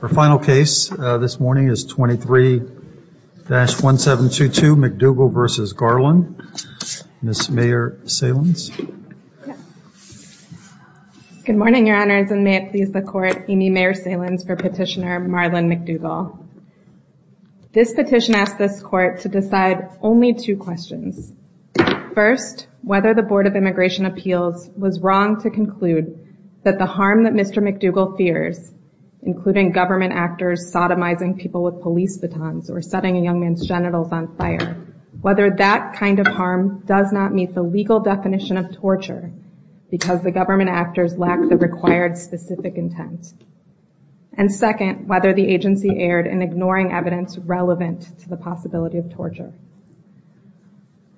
Our final case this morning is 23-1722 McDougall v. Garland. Ms. Mayor Salins. Good morning, your honors, and may it please the court, Amy Mayor Salins for petitioner Marlon McDougall. This petition asks this court to decide only two questions. First, whether the Board of Immigration Appeals was wrong to conclude that the harm that Mr. McDougall fears, including government actors sodomizing people with police batons or setting a young man's genitals on fire, whether that kind of harm does not meet the legal definition of torture because the government actors lack the required specific intent. And second, whether the agency erred in ignoring evidence relevant to the possibility of torture.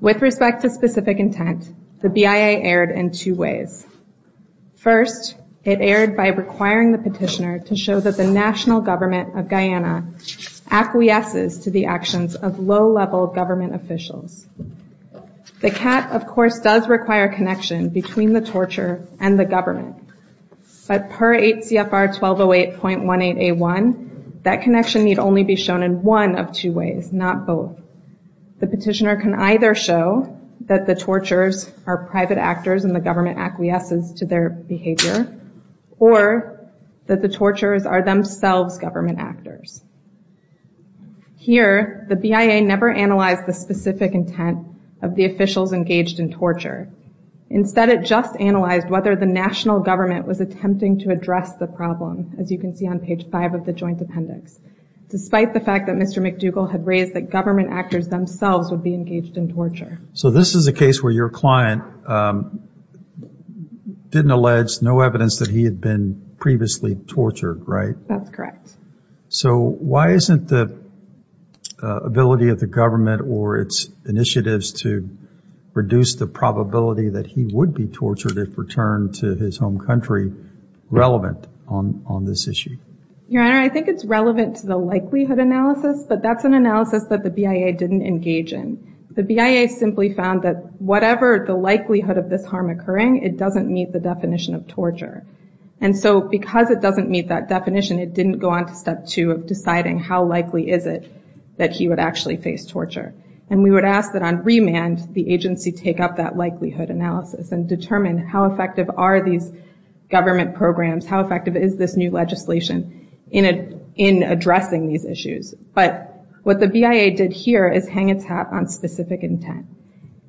With respect to specific intent, the BIA erred in two ways. First, it erred by requiring the petitioner to show that the national government of Guyana acquiesces to the actions of low-level government officials. The CAT, of course, does require a connection between the torture and the government. But per 8 CFR 1208.18A1, that connection need only be shown in one of two ways, not both. The petitioner can either show that the torturers are private actors and the government acquiesces to their behavior, or that the torturers are themselves government actors. Here, the BIA never analyzed the specific intent of the officials engaged in torture. Instead, it just analyzed whether the national government was attempting to address the problem, as you can see on page 5 of the joint appendix, despite the fact that Mr. McDougall had raised that government actors themselves would be engaged in torture. So this is a case where your client didn't allege no evidence that he had been previously tortured, right? That's correct. So why isn't the ability of the government or its initiatives to reduce the probability that he would be tortured if returned to his home country relevant on this issue? Your Honor, I think it's relevant to the likelihood analysis, but that's an analysis that the BIA didn't engage in. The BIA simply found that whatever the likelihood of this harm occurring, it doesn't meet the definition of torture. And so because it doesn't meet that definition, it didn't go on to step 2 of deciding how likely is it that he would actually face torture. And we would ask that on remand, the agency take up that likelihood analysis and determine how effective are these government programs, how effective is this new legislation in addressing these issues. But what the BIA did here is hang its hat on specific intent.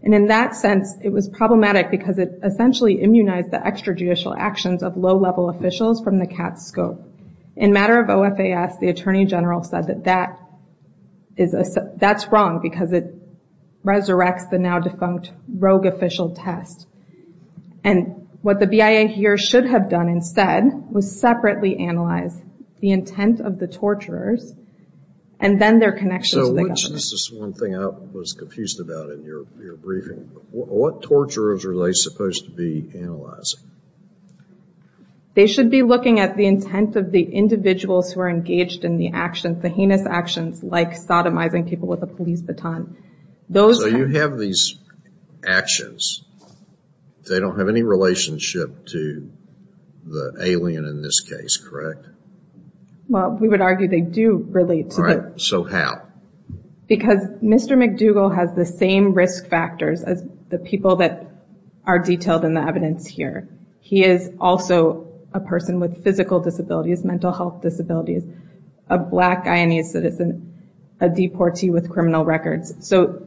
And in that sense, it was problematic because it essentially immunized the extrajudicial actions of low-level officials from the CATS scope. In matter of OFAS, the Attorney General said that that's wrong because it resurrects the now defunct rogue official test. And what the BIA here should have done instead was separately analyze the intent of the torturers and then their connection to the government. This is one thing I was confused about in your briefing. What torturers are they supposed to be analyzing? They should be looking at the intent of the individuals who are engaged in the actions, the heinous actions like sodomizing people with a police baton. So you have these actions. They don't have any relationship to the alien in this case, correct? Well, we would argue they do relate to the... So how? Because Mr. McDougall has the same risk factors as the people that are detailed in the evidence here. He is also a person with physical disabilities, mental health disabilities, a black Guyanese citizen, a deportee with criminal records. So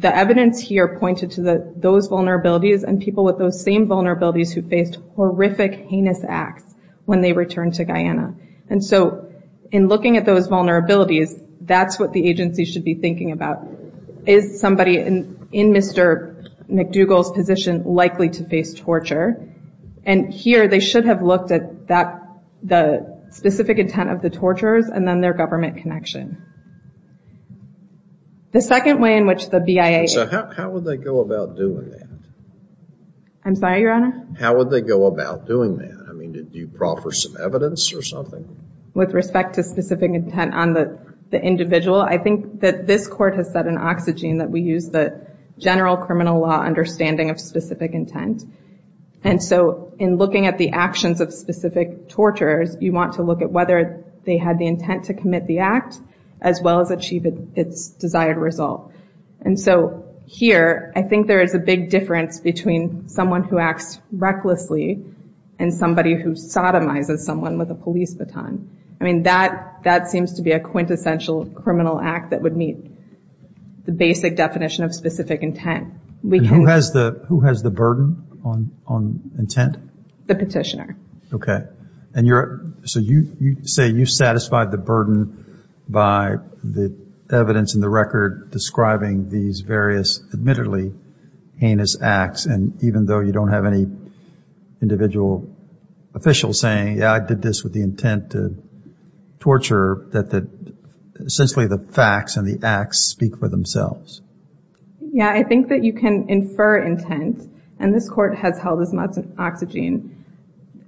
the evidence here pointed to those vulnerabilities and people with those same vulnerabilities who faced horrific, heinous acts when they returned to Guyana. And so in looking at those vulnerabilities, that's what the agency should be thinking about. Is somebody in Mr. McDougall's position likely to face torture? And here they should have looked at the specific intent of the torturers and then their government connection. The second way in which the BIA... So how would they go about doing that? I'm sorry, Your Honor? How would they go about doing that? I mean, do you call for some evidence or something? With respect to specific intent on the individual, I think that this court has said in Oxygen that we use the general criminal law understanding of specific intent. And so in looking at the actions of specific torturers, you want to look at whether they had the intent to commit the act as well as achieve its desired result. And so here, I think there is a big difference between someone who acts recklessly and somebody who sodomizes someone with a police baton. I mean, that seems to be a quintessential criminal act that would meet the basic definition of specific intent. Who has the burden on intent? The petitioner. Okay. So you say you satisfied the burden by the evidence in the record describing these various admittedly heinous acts, and even though you don't have any individual official saying, yeah, I did this with the intent to torture, that essentially the facts and the acts speak for themselves. Yeah, I think that you can infer intent, and this court has held as much as Oxygen.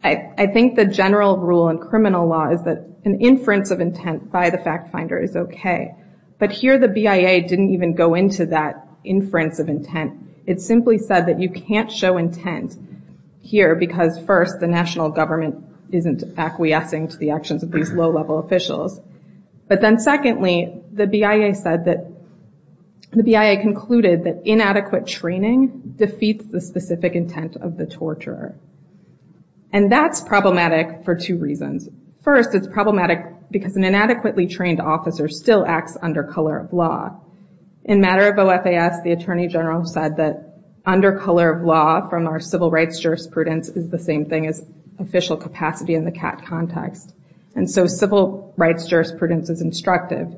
I think the general rule in criminal law is that an inference of intent by the fact finder is okay. But here the BIA didn't even go into that inference of intent. It simply said that you can't show intent here because, first, the national government isn't acquiescing to the actions of these low-level officials. But then secondly, the BIA concluded that inadequate training defeats the specific intent of the torturer. And that's problematic for two reasons. First, it's problematic because an inadequately trained officer still acts under color of law. In matter of OFAS, the attorney general said that under color of law from our civil rights jurisprudence is the same thing as official capacity in the CAT context. And so civil rights jurisprudence is instructive.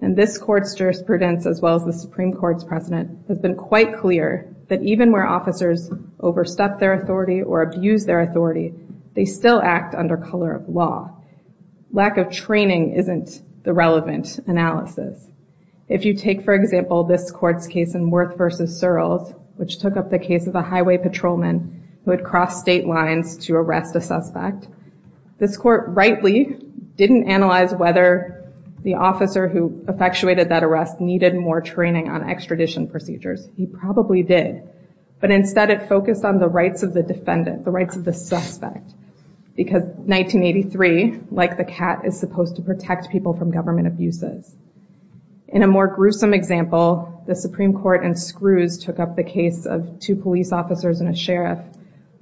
And this court's jurisprudence, as well as the Supreme Court's precedent, has been quite clear that even where officers overstep their authority or abuse their authority, they still act under color of law. Lack of training isn't the relevant analysis. If you take, for example, this court's case in Worth v. Searles, which took up the case of a highway patrolman who had crossed state lines to arrest a suspect, this court rightly didn't analyze whether the officer who effectuated that arrest needed more training on extradition procedures. He probably did. But instead it focused on the rights of the defendant, the rights of the suspect. Because 1983, like the CAT, is supposed to protect people from government abuses. In a more gruesome example, the Supreme Court in Screws took up the case of two police officers and a sheriff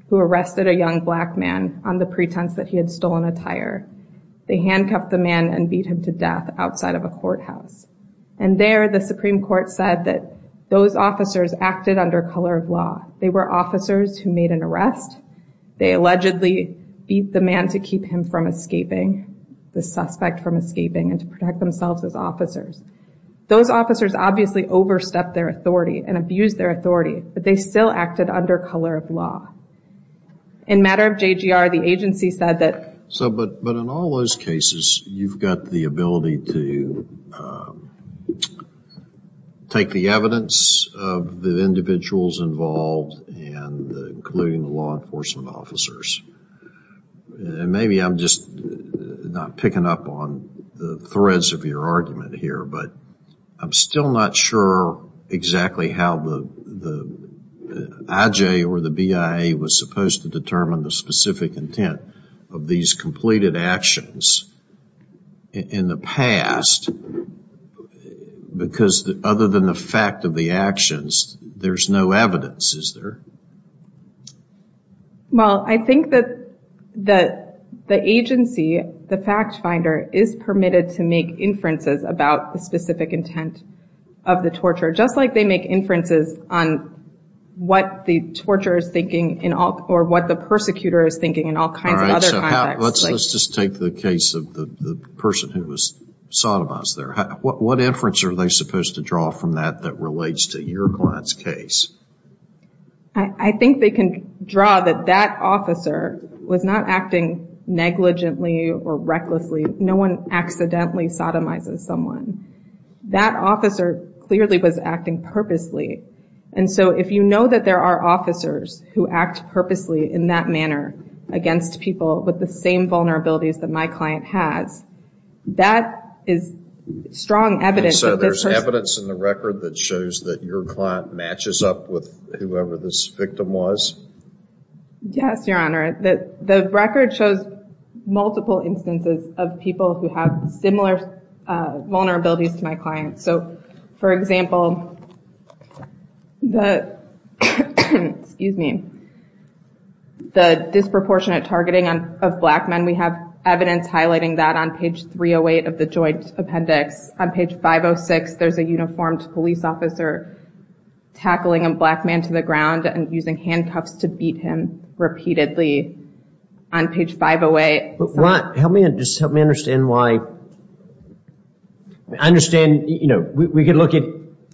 who arrested a young black man on the pretense that he had stolen attire. They handcuffed the man and beat him to death outside of a courthouse. And there the Supreme Court said that those officers acted under color of law. They were officers who made an arrest. They allegedly beat the man to keep him from escaping, the suspect from escaping, and to protect themselves as officers. Those officers obviously overstepped their authority and abused their authority, but they still acted under color of law. In matter of JGR, the agency said that... So, but in all those cases, you've got the ability to take the evidence of the individuals involved and including the law enforcement officers. And maybe I'm just not picking up on the threads of your argument here, but I'm still not sure exactly how the IJ or the BIA was supposed to determine the specific intent of these completed actions in the past. Because other than the fact of the actions, there's no evidence, is there? Well, I think that the agency, the fact finder, is permitted to make inferences about the specific intent of the torture, just like they make inferences on what the torturer is thinking or what the persecutor is thinking in all kinds of other contexts. All right, so let's just take the case of the person who was sodomized there. What inference are they supposed to draw from that that relates to your client's case? I think they can draw that that officer was not acting negligently or recklessly. No one accidentally sodomizes someone. That officer clearly was acting purposely. And so if you know that there are officers who act purposely in that manner against people with the same vulnerabilities that my client has, that is strong evidence that this person... And so there's evidence in the record that shows that your client matches up with whoever this victim was? Yes, Your Honor. The record shows multiple instances of people who have similar vulnerabilities to my client. So, for example, the disproportionate targeting of black men, we have evidence highlighting that on page 308 of the joint appendix. On page 506, there's a uniformed police officer tackling a black man to the ground and using handcuffs to beat him repeatedly. On page 508... Help me understand why... I understand, you know, we could look at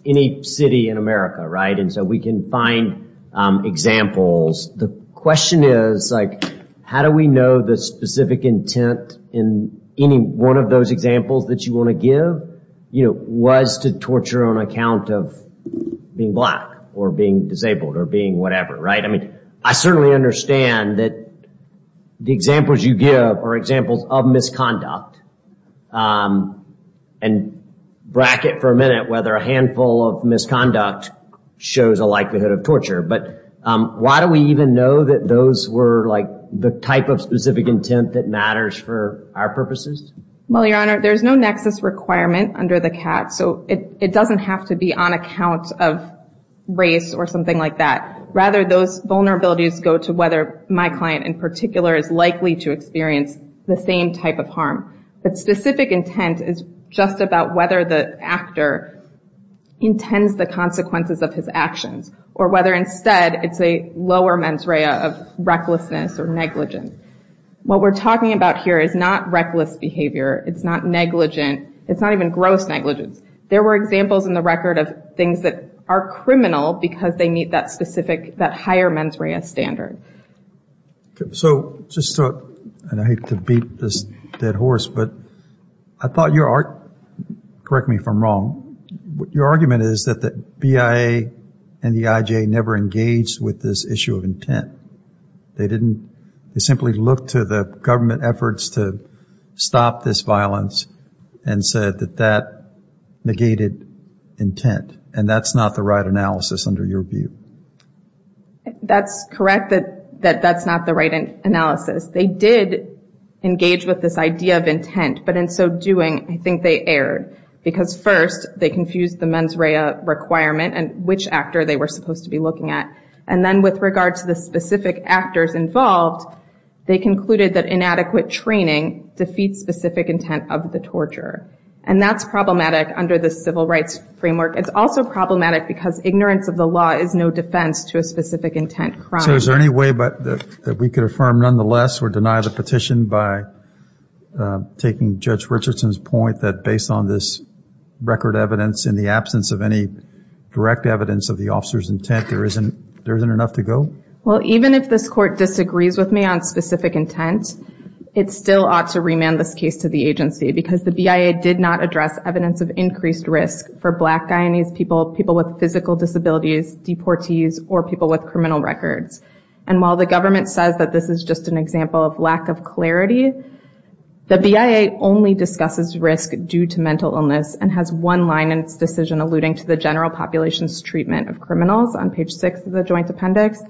any city in America, right? And so we can find examples. The question is, like, how do we know the specific intent in any one of those examples that you want to give, you know, was to torture on account of being black or being disabled or being whatever, right? I mean, I certainly understand that the examples you give are examples of misconduct. And bracket for a minute whether a handful of misconduct shows a likelihood of torture. But why do we even know that those were, like, the type of specific intent that matters for our purposes? Well, Your Honor, there's no nexus requirement under the CAT, so it doesn't have to be on account of race or something like that. Rather, those vulnerabilities go to whether my client in particular is likely to experience the same type of harm. But specific intent is just about whether the actor intends the consequences of his actions or whether instead it's a lower mens rea of recklessness or negligence. What we're talking about here is not reckless behavior. It's not negligent. It's not even gross negligence. There were examples in the record of things that are criminal because they meet that specific, that higher mens rea standard. So just so I don't hate to beat this dead horse, but I thought your argument, correct me if I'm wrong, your argument is that the BIA and the IJA never engaged with this issue of intent. They didn't. They simply looked to the government efforts to stop this violence and said that that negated intent, and that's not the right analysis under your view. That's correct that that's not the right analysis. They did engage with this idea of intent, but in so doing I think they erred because first they confused the mens rea requirement and which actor they were supposed to be looking at, and then with regard to the specific actors involved, they concluded that inadequate training defeats specific intent of the torturer, and that's problematic under the civil rights framework. It's also problematic because ignorance of the law is no defense to a specific intent crime. So is there any way that we could affirm nonetheless or deny the petition by taking Judge Richardson's point that based on this record evidence, in the absence of any direct evidence of the officer's intent, there isn't enough to go? Well, even if this court disagrees with me on specific intent, it still ought to remand this case to the agency because the BIA did not address evidence of increased risk for black Guyanese people, people with physical disabilities, deportees, or people with criminal records, and while the government says that this is just an example of lack of clarity, the BIA only discusses risk due to mental illness and has one line in its decision alluding to the general population's treatment of criminals on page six of the joint appendix,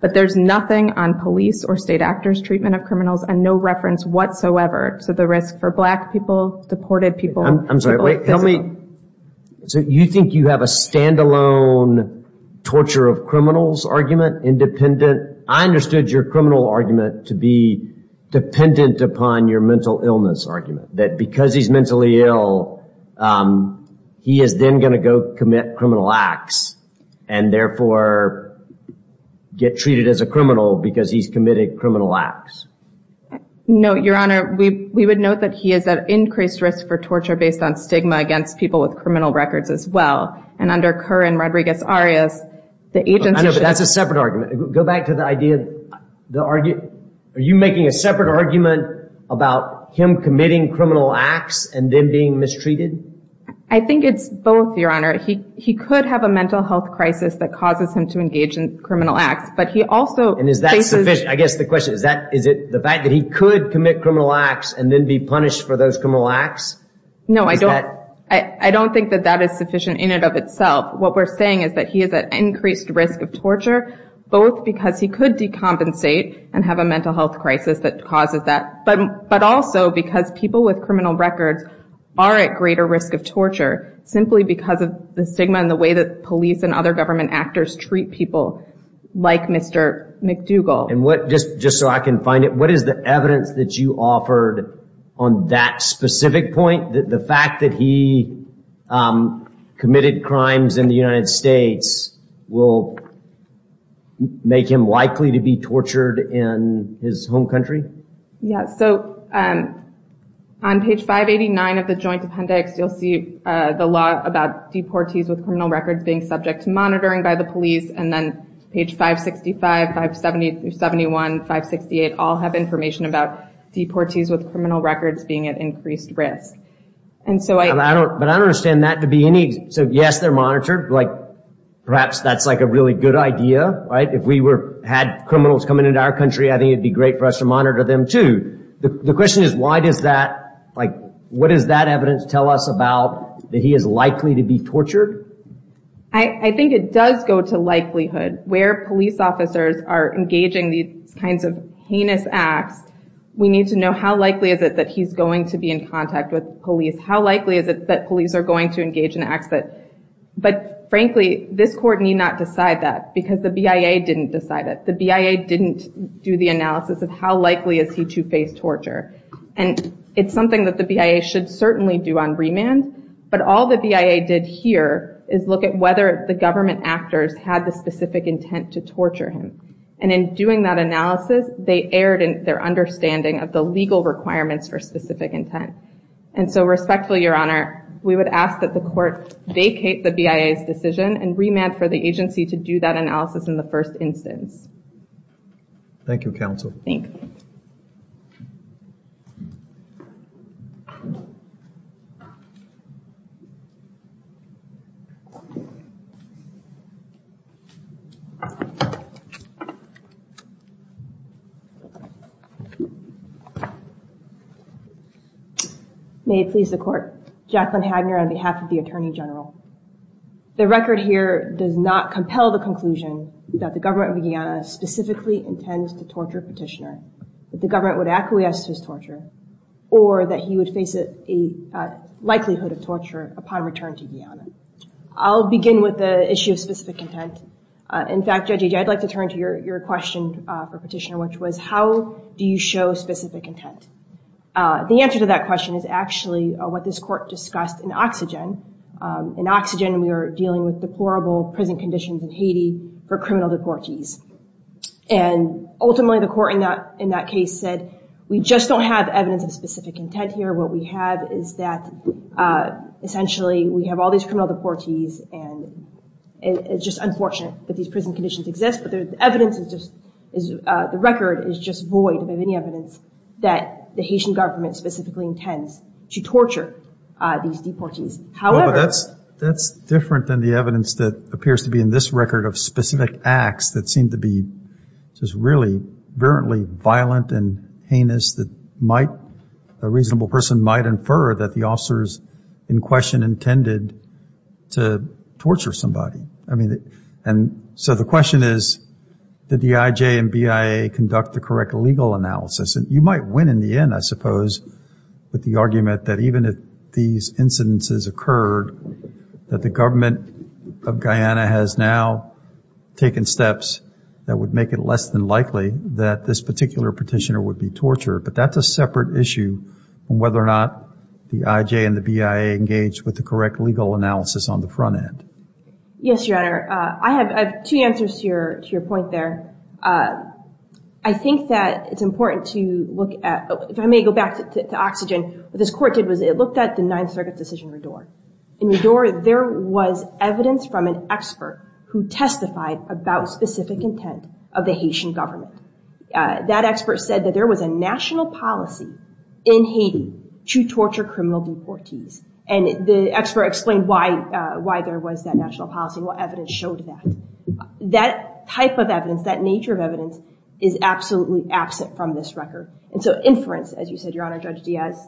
but there's nothing on police or state actors' treatment of criminals and no reference whatsoever to the risk for black people, deported people, people with physical... I'm sorry, wait, tell me, so you think you have a stand-alone torture of criminals argument independent? I understood your criminal argument to be dependent upon your mental illness argument, that because he's mentally ill, he is then going to go commit criminal acts and therefore get treated as a criminal because he's committed criminal acts. No, Your Honor, we would note that he is at increased risk for torture based on stigma against people with criminal records as well, and under Kerr and Rodriguez-Arias, the agency should... I know, but that's a separate argument. Go back to the idea... Are you making a separate argument about him committing criminal acts and then being mistreated? I think it's both, Your Honor. He could have a mental health crisis that causes him to engage in criminal acts, but he also faces... And is that sufficient? I guess the question is, is it the fact that he could commit criminal acts and then be punished for those criminal acts? No, I don't think that that is sufficient in and of itself. What we're saying is that he is at increased risk of torture, both because he could decompensate and have a mental health crisis that causes that, but also because people with criminal records are at greater risk of torture simply because of the stigma and the way that police and other government actors treat people like Mr. McDougall. Just so I can find it, what is the evidence that you offered on that specific point, the fact that he committed crimes in the United States will make him likely to be tortured in his home country? Yeah, so on page 589 of the Joint Appendix, you'll see the law about deportees with criminal records being subject to monitoring by the police, and then page 565, 571, 568, we all have information about deportees with criminal records being at increased risk. But I don't understand that to be any, so yes, they're monitored, perhaps that's a really good idea, right? If we had criminals coming into our country, I think it would be great for us to monitor them too. The question is, why does that, what does that evidence tell us about that he is likely to be tortured? I think it does go to likelihood. Where police officers are engaging these kinds of heinous acts, we need to know how likely is it that he's going to be in contact with police, how likely is it that police are going to engage in acts that, but frankly, this court need not decide that, because the BIA didn't decide it. The BIA didn't do the analysis of how likely is he to face torture. And it's something that the BIA should certainly do on remand, but all the BIA did here is look at whether the government actors had the specific intent to torture him. And in doing that analysis, they erred in their understanding of the legal requirements for specific intent. And so respectfully, Your Honor, we would ask that the court vacate the BIA's decision and remand for the agency to do that analysis in the first instance. Thank you, counsel. Thank you. May it please the court. Jacqueline Hagner on behalf of the Attorney General. The record here does not compel the conclusion that the government of Guyana specifically intends to torture Petitioner, that the government would acquiesce to his torture, or that he would face a likelihood of torture upon return to Guyana. I'll begin with the issue of specific intent. In fact, Judge Agee, I'd like to turn to your question for Petitioner, which was, how do you show specific intent? The answer to that question is actually what this court discussed in Oxygen. In Oxygen, we were dealing with deplorable prison conditions in Haiti for criminal deportees. And ultimately, the court in that case said, we just don't have evidence of specific intent here. What we have is that, essentially, we have all these criminal deportees, and it's just unfortunate that these prison conditions exist. But the evidence is just, the record is just void of any evidence that the Haitian government specifically intends to torture these deportees. However, that's different than the evidence that appears to be in this record of specific acts that seem to be just really virulently violent and heinous that might, a reasonable person might infer that the officers in question intended to torture somebody. So the question is, did the IJ and BIA conduct the correct legal analysis? And you might win in the end, I suppose, with the argument that even if these incidences occurred, that the government of Guyana has now taken steps that would make it less than likely that this particular petitioner would be tortured. But that's a separate issue on whether or not the IJ and the BIA engaged with the correct legal analysis on the front end. Yes, Your Honor. I have two answers to your point there. I think that it's important to look at, if I may go back to Oxygen, what this court did was it looked at the Ninth Circuit decision in Redour. In Redour, there was evidence from an expert who testified about specific intent of the Haitian government. That expert said that there was a national policy in Haiti to torture criminal deportees. And the expert explained why there was that national policy and what evidence showed that. That type of evidence, that nature of evidence, is absolutely absent from this record. And so inference, as you said, Your Honor, Judge Diaz,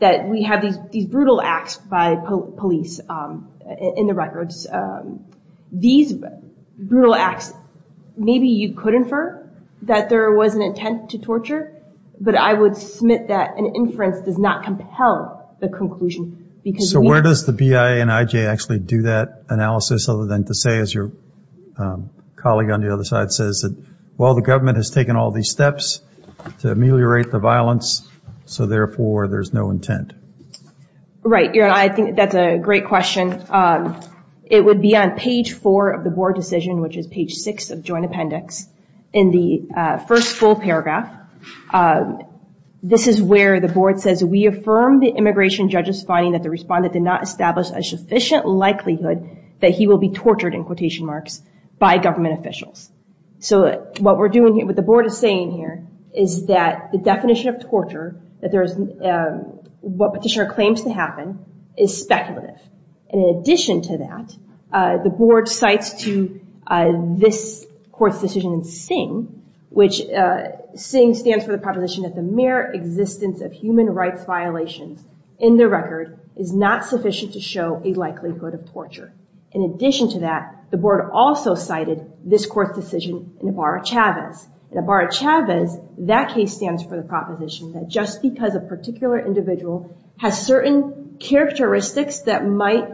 that we have these brutal acts by police in the records. These brutal acts, maybe you could infer that there was an intent to torture, but I would submit that an inference does not compel the conclusion. So where does the BIA and IJ actually do that analysis other than to say, as your colleague on the other side says, that while the government has taken all these steps to ameliorate the violence, so therefore there's no intent? Right, Your Honor. I think that's a great question. It would be on page four of the board decision, which is page six of joint appendix. In the first full paragraph, this is where the board says, We affirm the immigration judge's finding that the respondent did not establish a sufficient likelihood that he will be tortured, in quotation marks, by government officials. So what we're doing here, what the board is saying here, is that the definition of torture, what petitioner claims to happen, is speculative. In addition to that, the board cites to this court's decision in Singh, which Singh stands for the proposition that the mere existence of human rights violations in the record is not sufficient to show a likelihood of torture. In addition to that, the board also cited this court's decision in Ibarra-Chavez. In Ibarra-Chavez, that case stands for the proposition that just because a particular individual has certain characteristics that might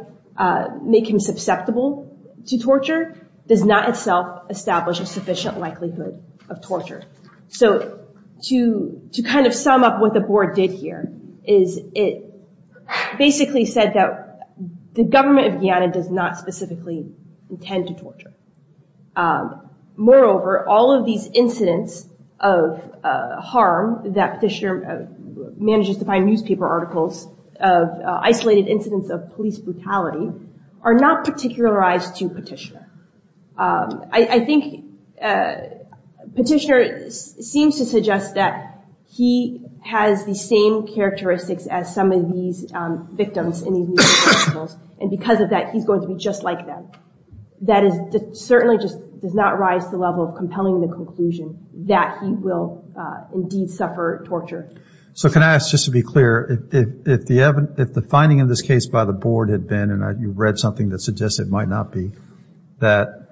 make him susceptible to torture, does not itself establish a sufficient likelihood of torture. So to kind of sum up what the board did here, is it basically said that the government of Guyana does not specifically intend to torture. Moreover, all of these incidents of harm that petitioner manages to find newspaper articles, isolated incidents of police brutality, are not particularized to petitioner. I think petitioner seems to suggest that he has the same characteristics as some of these victims in these newspaper articles, and because of that, he's going to be just like them. That certainly just does not rise to the level of compelling the conclusion that he will indeed suffer torture. So can I ask, just to be clear, if the finding in this case by the board had been, and you read something that suggests it might not be, that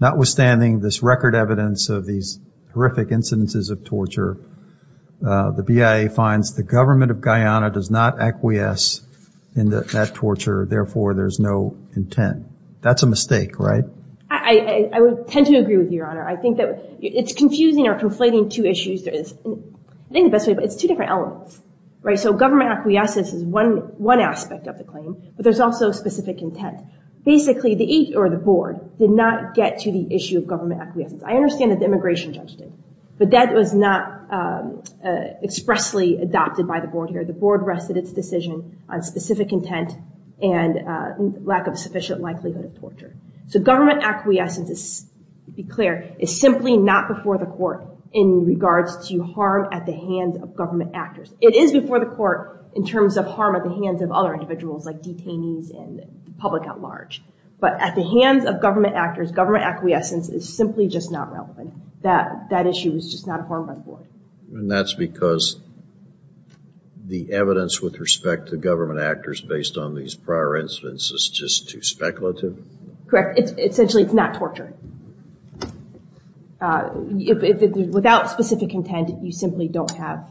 notwithstanding this record evidence of these horrific incidences of torture, the BIA finds the government of Guyana does not acquiesce in that torture, therefore there's no intent. That's a mistake, right? I would tend to agree with you, Your Honor. I think that it's confusing or conflating two issues. I think the best way, but it's two different elements. So government acquiescence is one aspect of the claim, but there's also specific intent. Basically, the board did not get to the issue of government acquiescence. I understand that the immigration judge did, but that was not expressly adopted by the board here. The board rested its decision on specific intent and lack of sufficient likelihood of torture. So government acquiescence, to be clear, is simply not before the court in regards to harm at the hands of government actors. It is before the court in terms of harm at the hands of other individuals, like detainees and the public at large. But at the hands of government actors, government acquiescence is simply just not relevant. That issue is just not harmed by the board. And that's because the evidence with respect to government actors based on these prior incidents is just too speculative? Correct. Essentially, it's not torture. Without specific intent, you simply don't have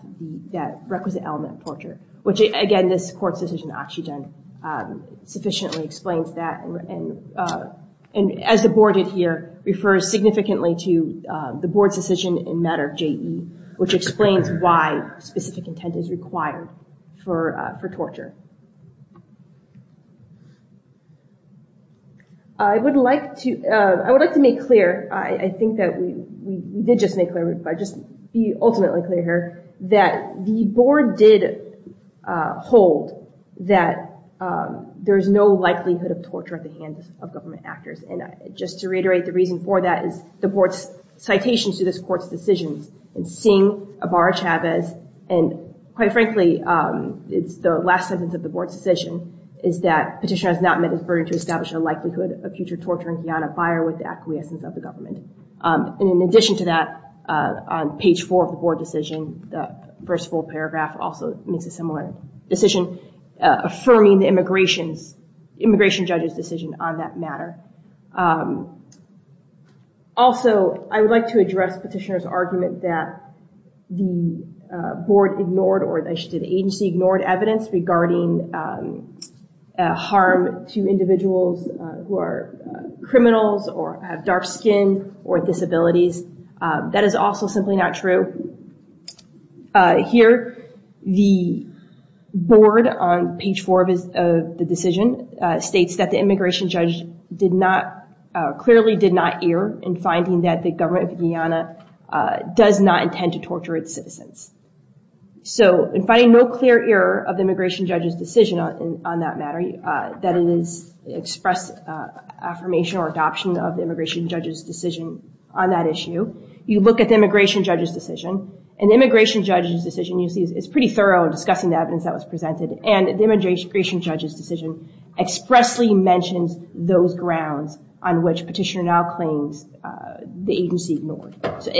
that requisite element of torture, which, again, this court's decision in Oxygen sufficiently explains that. And as the board did here, refers significantly to the board's decision in matter of JE, which explains why specific intent is required for torture. I would like to make clear, I think that we did just make clear, but I'll just be ultimately clear here, that the board did hold that there's no likelihood of torture at the hands of government actors. And just to reiterate, the reason for that is the board's citations to this court's decisions. And seeing a Barra-Chavez, and quite frankly, it's the last sentence of the board's decision, is that petitioner has not met his burden to establish a likelihood of future torture and be on a fire with the acquiescence of the government. And in addition to that, on page four of the board decision, the first full paragraph also makes a similar decision, affirming the immigration judge's decision on that matter. Also, I would like to address petitioner's argument that the board ignored, or the agency ignored evidence regarding harm to individuals who are criminals or have dark skin or disabilities. That is also simply not true. Here, the board on page four of the decision states that the immigration judge clearly did not err in finding that the government of Guyana does not intend to torture its citizens. So, in finding no clear error of the immigration judge's decision on that matter, that it is expressed affirmation or adoption of the immigration judge's decision on that issue, you look at the immigration judge's decision, and the immigration judge's decision, you see, is pretty thorough in discussing the evidence that was presented, and the immigration judge's decision expressly mentions those grounds on which petitioner now claims the agency ignored. So,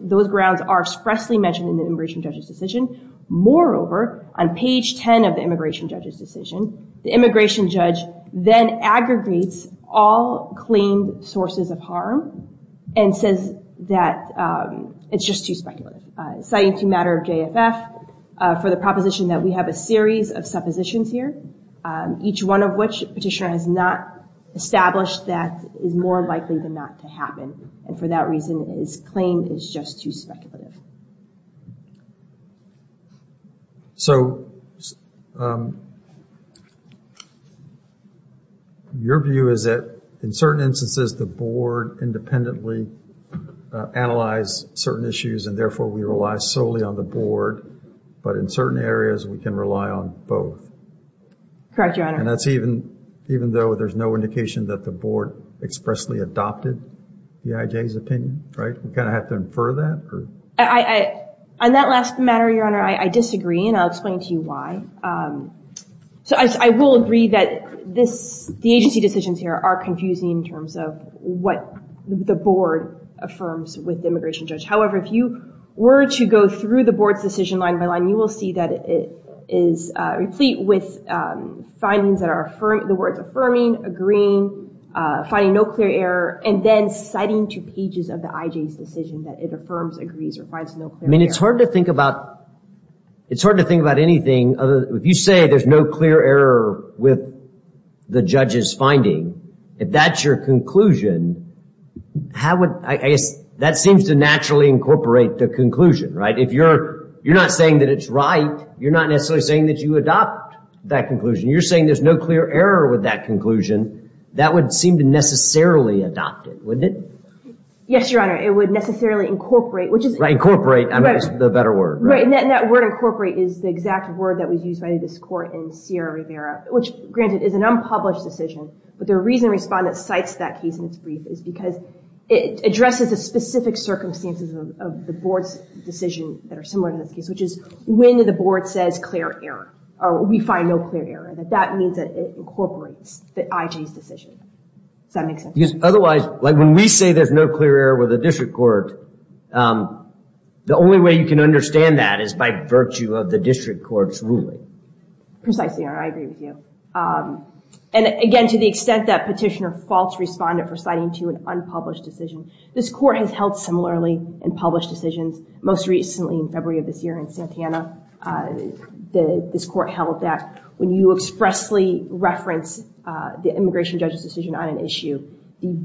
those grounds are expressly mentioned in the immigration judge's decision. Moreover, on page 10 of the immigration judge's decision, the immigration judge then aggregates all claimed sources of harm and says that it's just too speculative. Citing a matter of JFF for the proposition that we have a series of suppositions here, each one of which petitioner has not established that is more likely than not to happen, and for that reason is claimed as just too speculative. So, your view is that in certain instances, the board independently analyzed certain issues, and therefore we rely solely on the board, but in certain areas, we can rely on both. Correct, Your Honor. And that's even though there's no indication that the board expressly adopted the IJ's opinion, right? We kind of have to infer that? On that last matter, Your Honor, I disagree, and I'll explain to you why. So, I will agree that the agency decisions here are confusing in terms of what the board affirms with the immigration judge. However, if you were to go through the board's decision line by line, you will see that it is replete with findings that the board's affirming, agreeing, finding no clear error, and then citing two pages of the IJ's decision that it affirms, agrees, or finds no clear error. I mean, it's hard to think about anything. If you say there's no clear error with the judge's finding, if that's your conclusion, how would, I guess, that seems to naturally incorporate the conclusion, right? If you're not saying that it's right, you're not necessarily saying that you adopt that conclusion. You're saying there's no clear error with that conclusion, that would seem to necessarily adopt it, wouldn't it? Yes, Your Honor. It would necessarily incorporate, which is... Incorporate is the better word, right? Right, and that word incorporate is the exact word that was used by this court in Sierra Rivera, which, granted, is an unpublished decision, but the reason Respondent cites that case in its brief is because it addresses the specific circumstances of the board's decision that are similar to this case, which is when the board says clear error, or we find no clear error, that that means that it incorporates the IG's decision. Does that make sense? Because otherwise, like, when we say there's no clear error with the district court, the only way you can understand that is by virtue of the district court's ruling. Precisely, Your Honor. I agree with you. And, again, to the extent that Petitioner false responded for citing to an unpublished decision, this court has held similarly in published decisions, most recently in February of this year in Santana. This court held that when you expressly reference the immigration judge's decision on an issue, the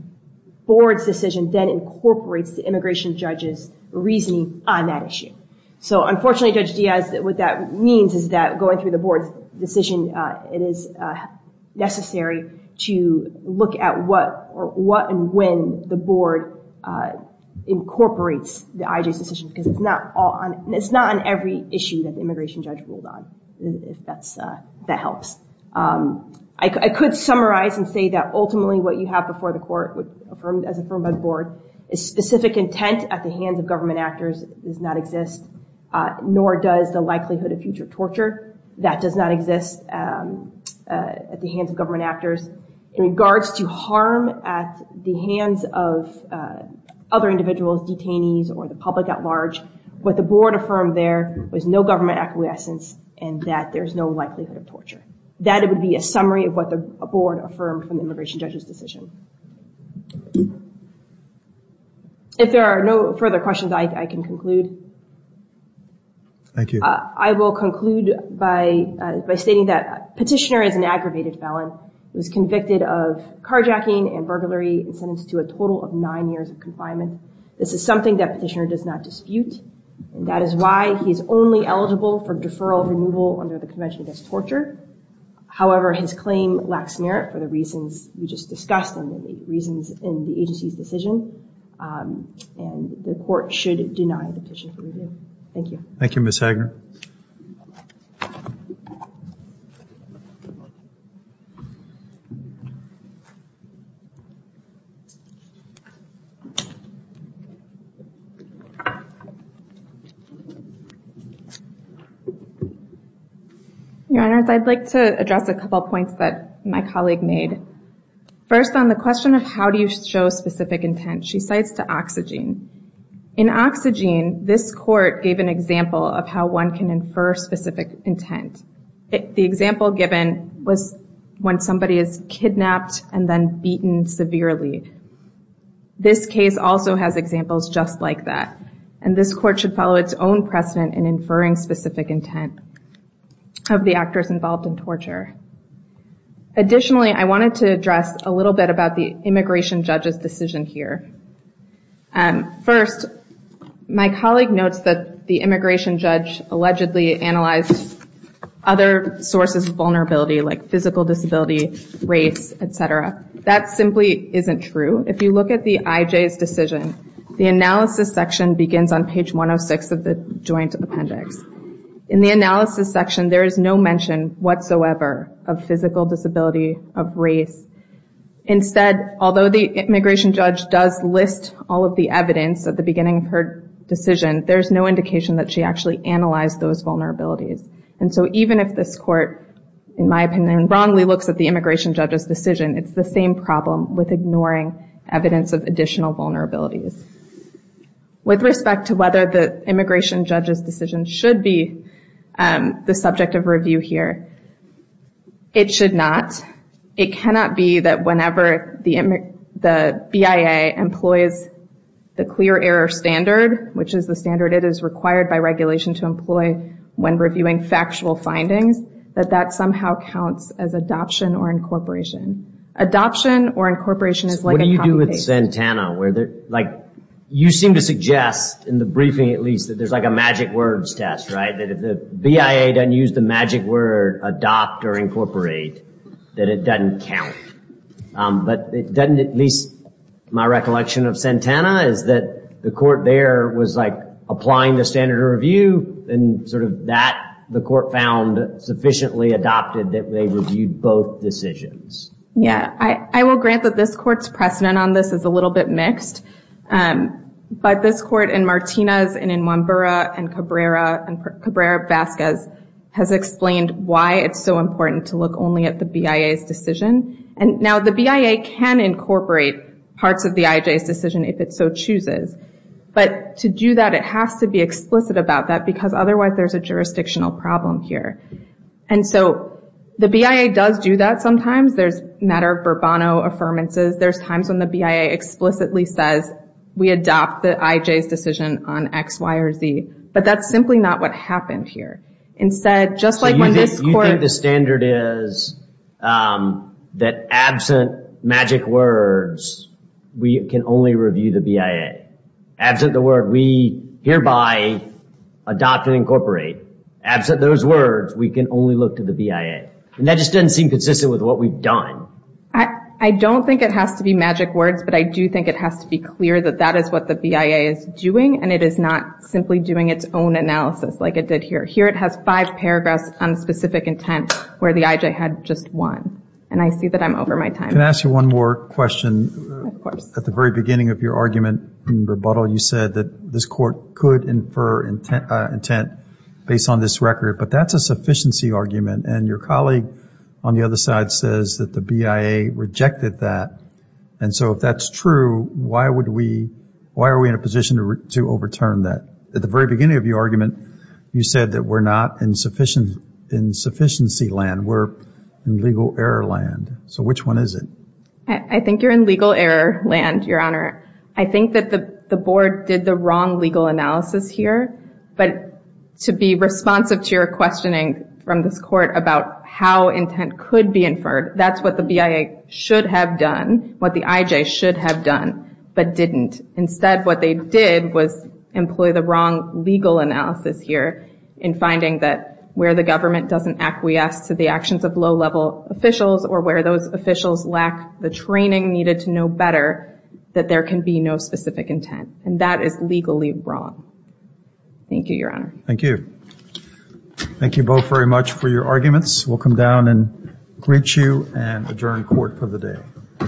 board's decision then incorporates the immigration judge's reasoning on that issue. So, unfortunately, Judge Diaz, what that means is that going through the board's decision, it is necessary to look at what and when the board incorporates the IG's decision, because it's not on every issue that the immigration judge ruled on, if that helps. I could summarize and say that ultimately what you have before the court, as affirmed by the board, is specific intent at the hands of government actors does not exist, nor does the likelihood of future torture. That does not exist at the hands of government actors. In regards to harm at the hands of other individuals, detainees, or the public at large, what the board affirmed there was no government acquiescence and that there's no likelihood of torture. That would be a summary of what the board affirmed from the immigration judge's decision. If there are no further questions, I can conclude. Thank you. I will conclude by stating that Petitioner is an aggravated felon. He was convicted of carjacking and burglary and sentenced to a total of nine years of confinement. This is something that Petitioner does not dispute, and that is why he's only eligible for deferral removal under the Convention Against Torture. However, his claim lacks merit for the reasons we just discussed and the reasons in the agency's decision, and the court should deny the petition for review. Thank you. Thank you, Ms. Hagner. Your Honor, I'd like to address a couple points that my colleague made. First, on the question of how do you show specific intent, she cites the oxygen. In oxygen, this court gave an example of how one can infer specific intent. The example given was when somebody is kidnapped and then beaten severely. This case also has examples just like that, and this court should follow its own precedent in inferring specific intent of the actors involved in torture. Additionally, I wanted to address a little bit about the immigration judge's decision here. First, my colleague notes that the immigration judge allegedly analyzed other sources of vulnerability, like physical disability, race, et cetera. That simply isn't true. If you look at the IJ's decision, the analysis section begins on page 106 of the joint appendix. In the analysis section, there is no mention whatsoever of physical disability, of race. Instead, although the immigration judge does list all of the evidence at the beginning of her decision, there's no indication that she actually analyzed those vulnerabilities. And so even if this court, in my opinion, wrongly looks at the immigration judge's decision, it's the same problem with ignoring evidence of additional vulnerabilities. With respect to whether the immigration judge's decision should be the subject of review here, it should not. It cannot be that whenever the BIA employs the clear error standard, which is the standard it is required by regulation to employ when reviewing factual findings, that that somehow counts as adoption or incorporation. Adoption or incorporation is like a combination. What about you with Santana? You seem to suggest, in the briefing at least, that there's like a magic words test, right? That if the BIA doesn't use the magic word adopt or incorporate, that it doesn't count. But doesn't at least my recollection of Santana is that the court there was like applying the standard of review, and sort of that the court found sufficiently adopted that they reviewed both decisions. Yeah. I will grant that this court's precedent on this is a little bit mixed. But this court in Martinez and in Mwambura and Cabrera Vasquez has explained why it's so important to look only at the BIA's decision. And now the BIA can incorporate parts of the IJ's decision if it so chooses. But to do that, it has to be explicit about that because otherwise there's a jurisdictional problem here. And so the BIA does do that sometimes. There's a matter of Bourbonno Affirmances. There's times when the BIA explicitly says we adopt the IJ's decision on X, Y, or Z. But that's simply not what happened here. Instead, just like when this court- So you think the standard is that absent magic words, we can only review the BIA? Absent the word, we hereby adopt and incorporate. Absent those words, we can only look to the BIA. And that just doesn't seem consistent with what we've done. I don't think it has to be magic words, but I do think it has to be clear that that is what the BIA is doing, and it is not simply doing its own analysis like it did here. Here it has five paragraphs on specific intent where the IJ had just one. And I see that I'm over my time. Can I ask you one more question? Of course. At the very beginning of your argument in rebuttal, you said that this court could infer intent based on this record, but that's a sufficiency argument. And your colleague on the other side says that the BIA rejected that. And so if that's true, why are we in a position to overturn that? At the very beginning of your argument, you said that we're not in sufficiency land. We're in legal error land. So which one is it? I think you're in legal error land, Your Honor. I think that the board did the wrong legal analysis here. But to be responsive to your questioning from this court about how intent could be inferred, that's what the BIA should have done, what the IJ should have done, but didn't. Instead, what they did was employ the wrong legal analysis here in finding that where the government doesn't acquiesce to the actions of low-level officials or where those officials lack the training needed to know better, that there can be no specific intent. And that is legally wrong. Thank you, Your Honor. Thank you. Thank you both very much for your arguments. We'll come down and greet you and adjourn court for the day.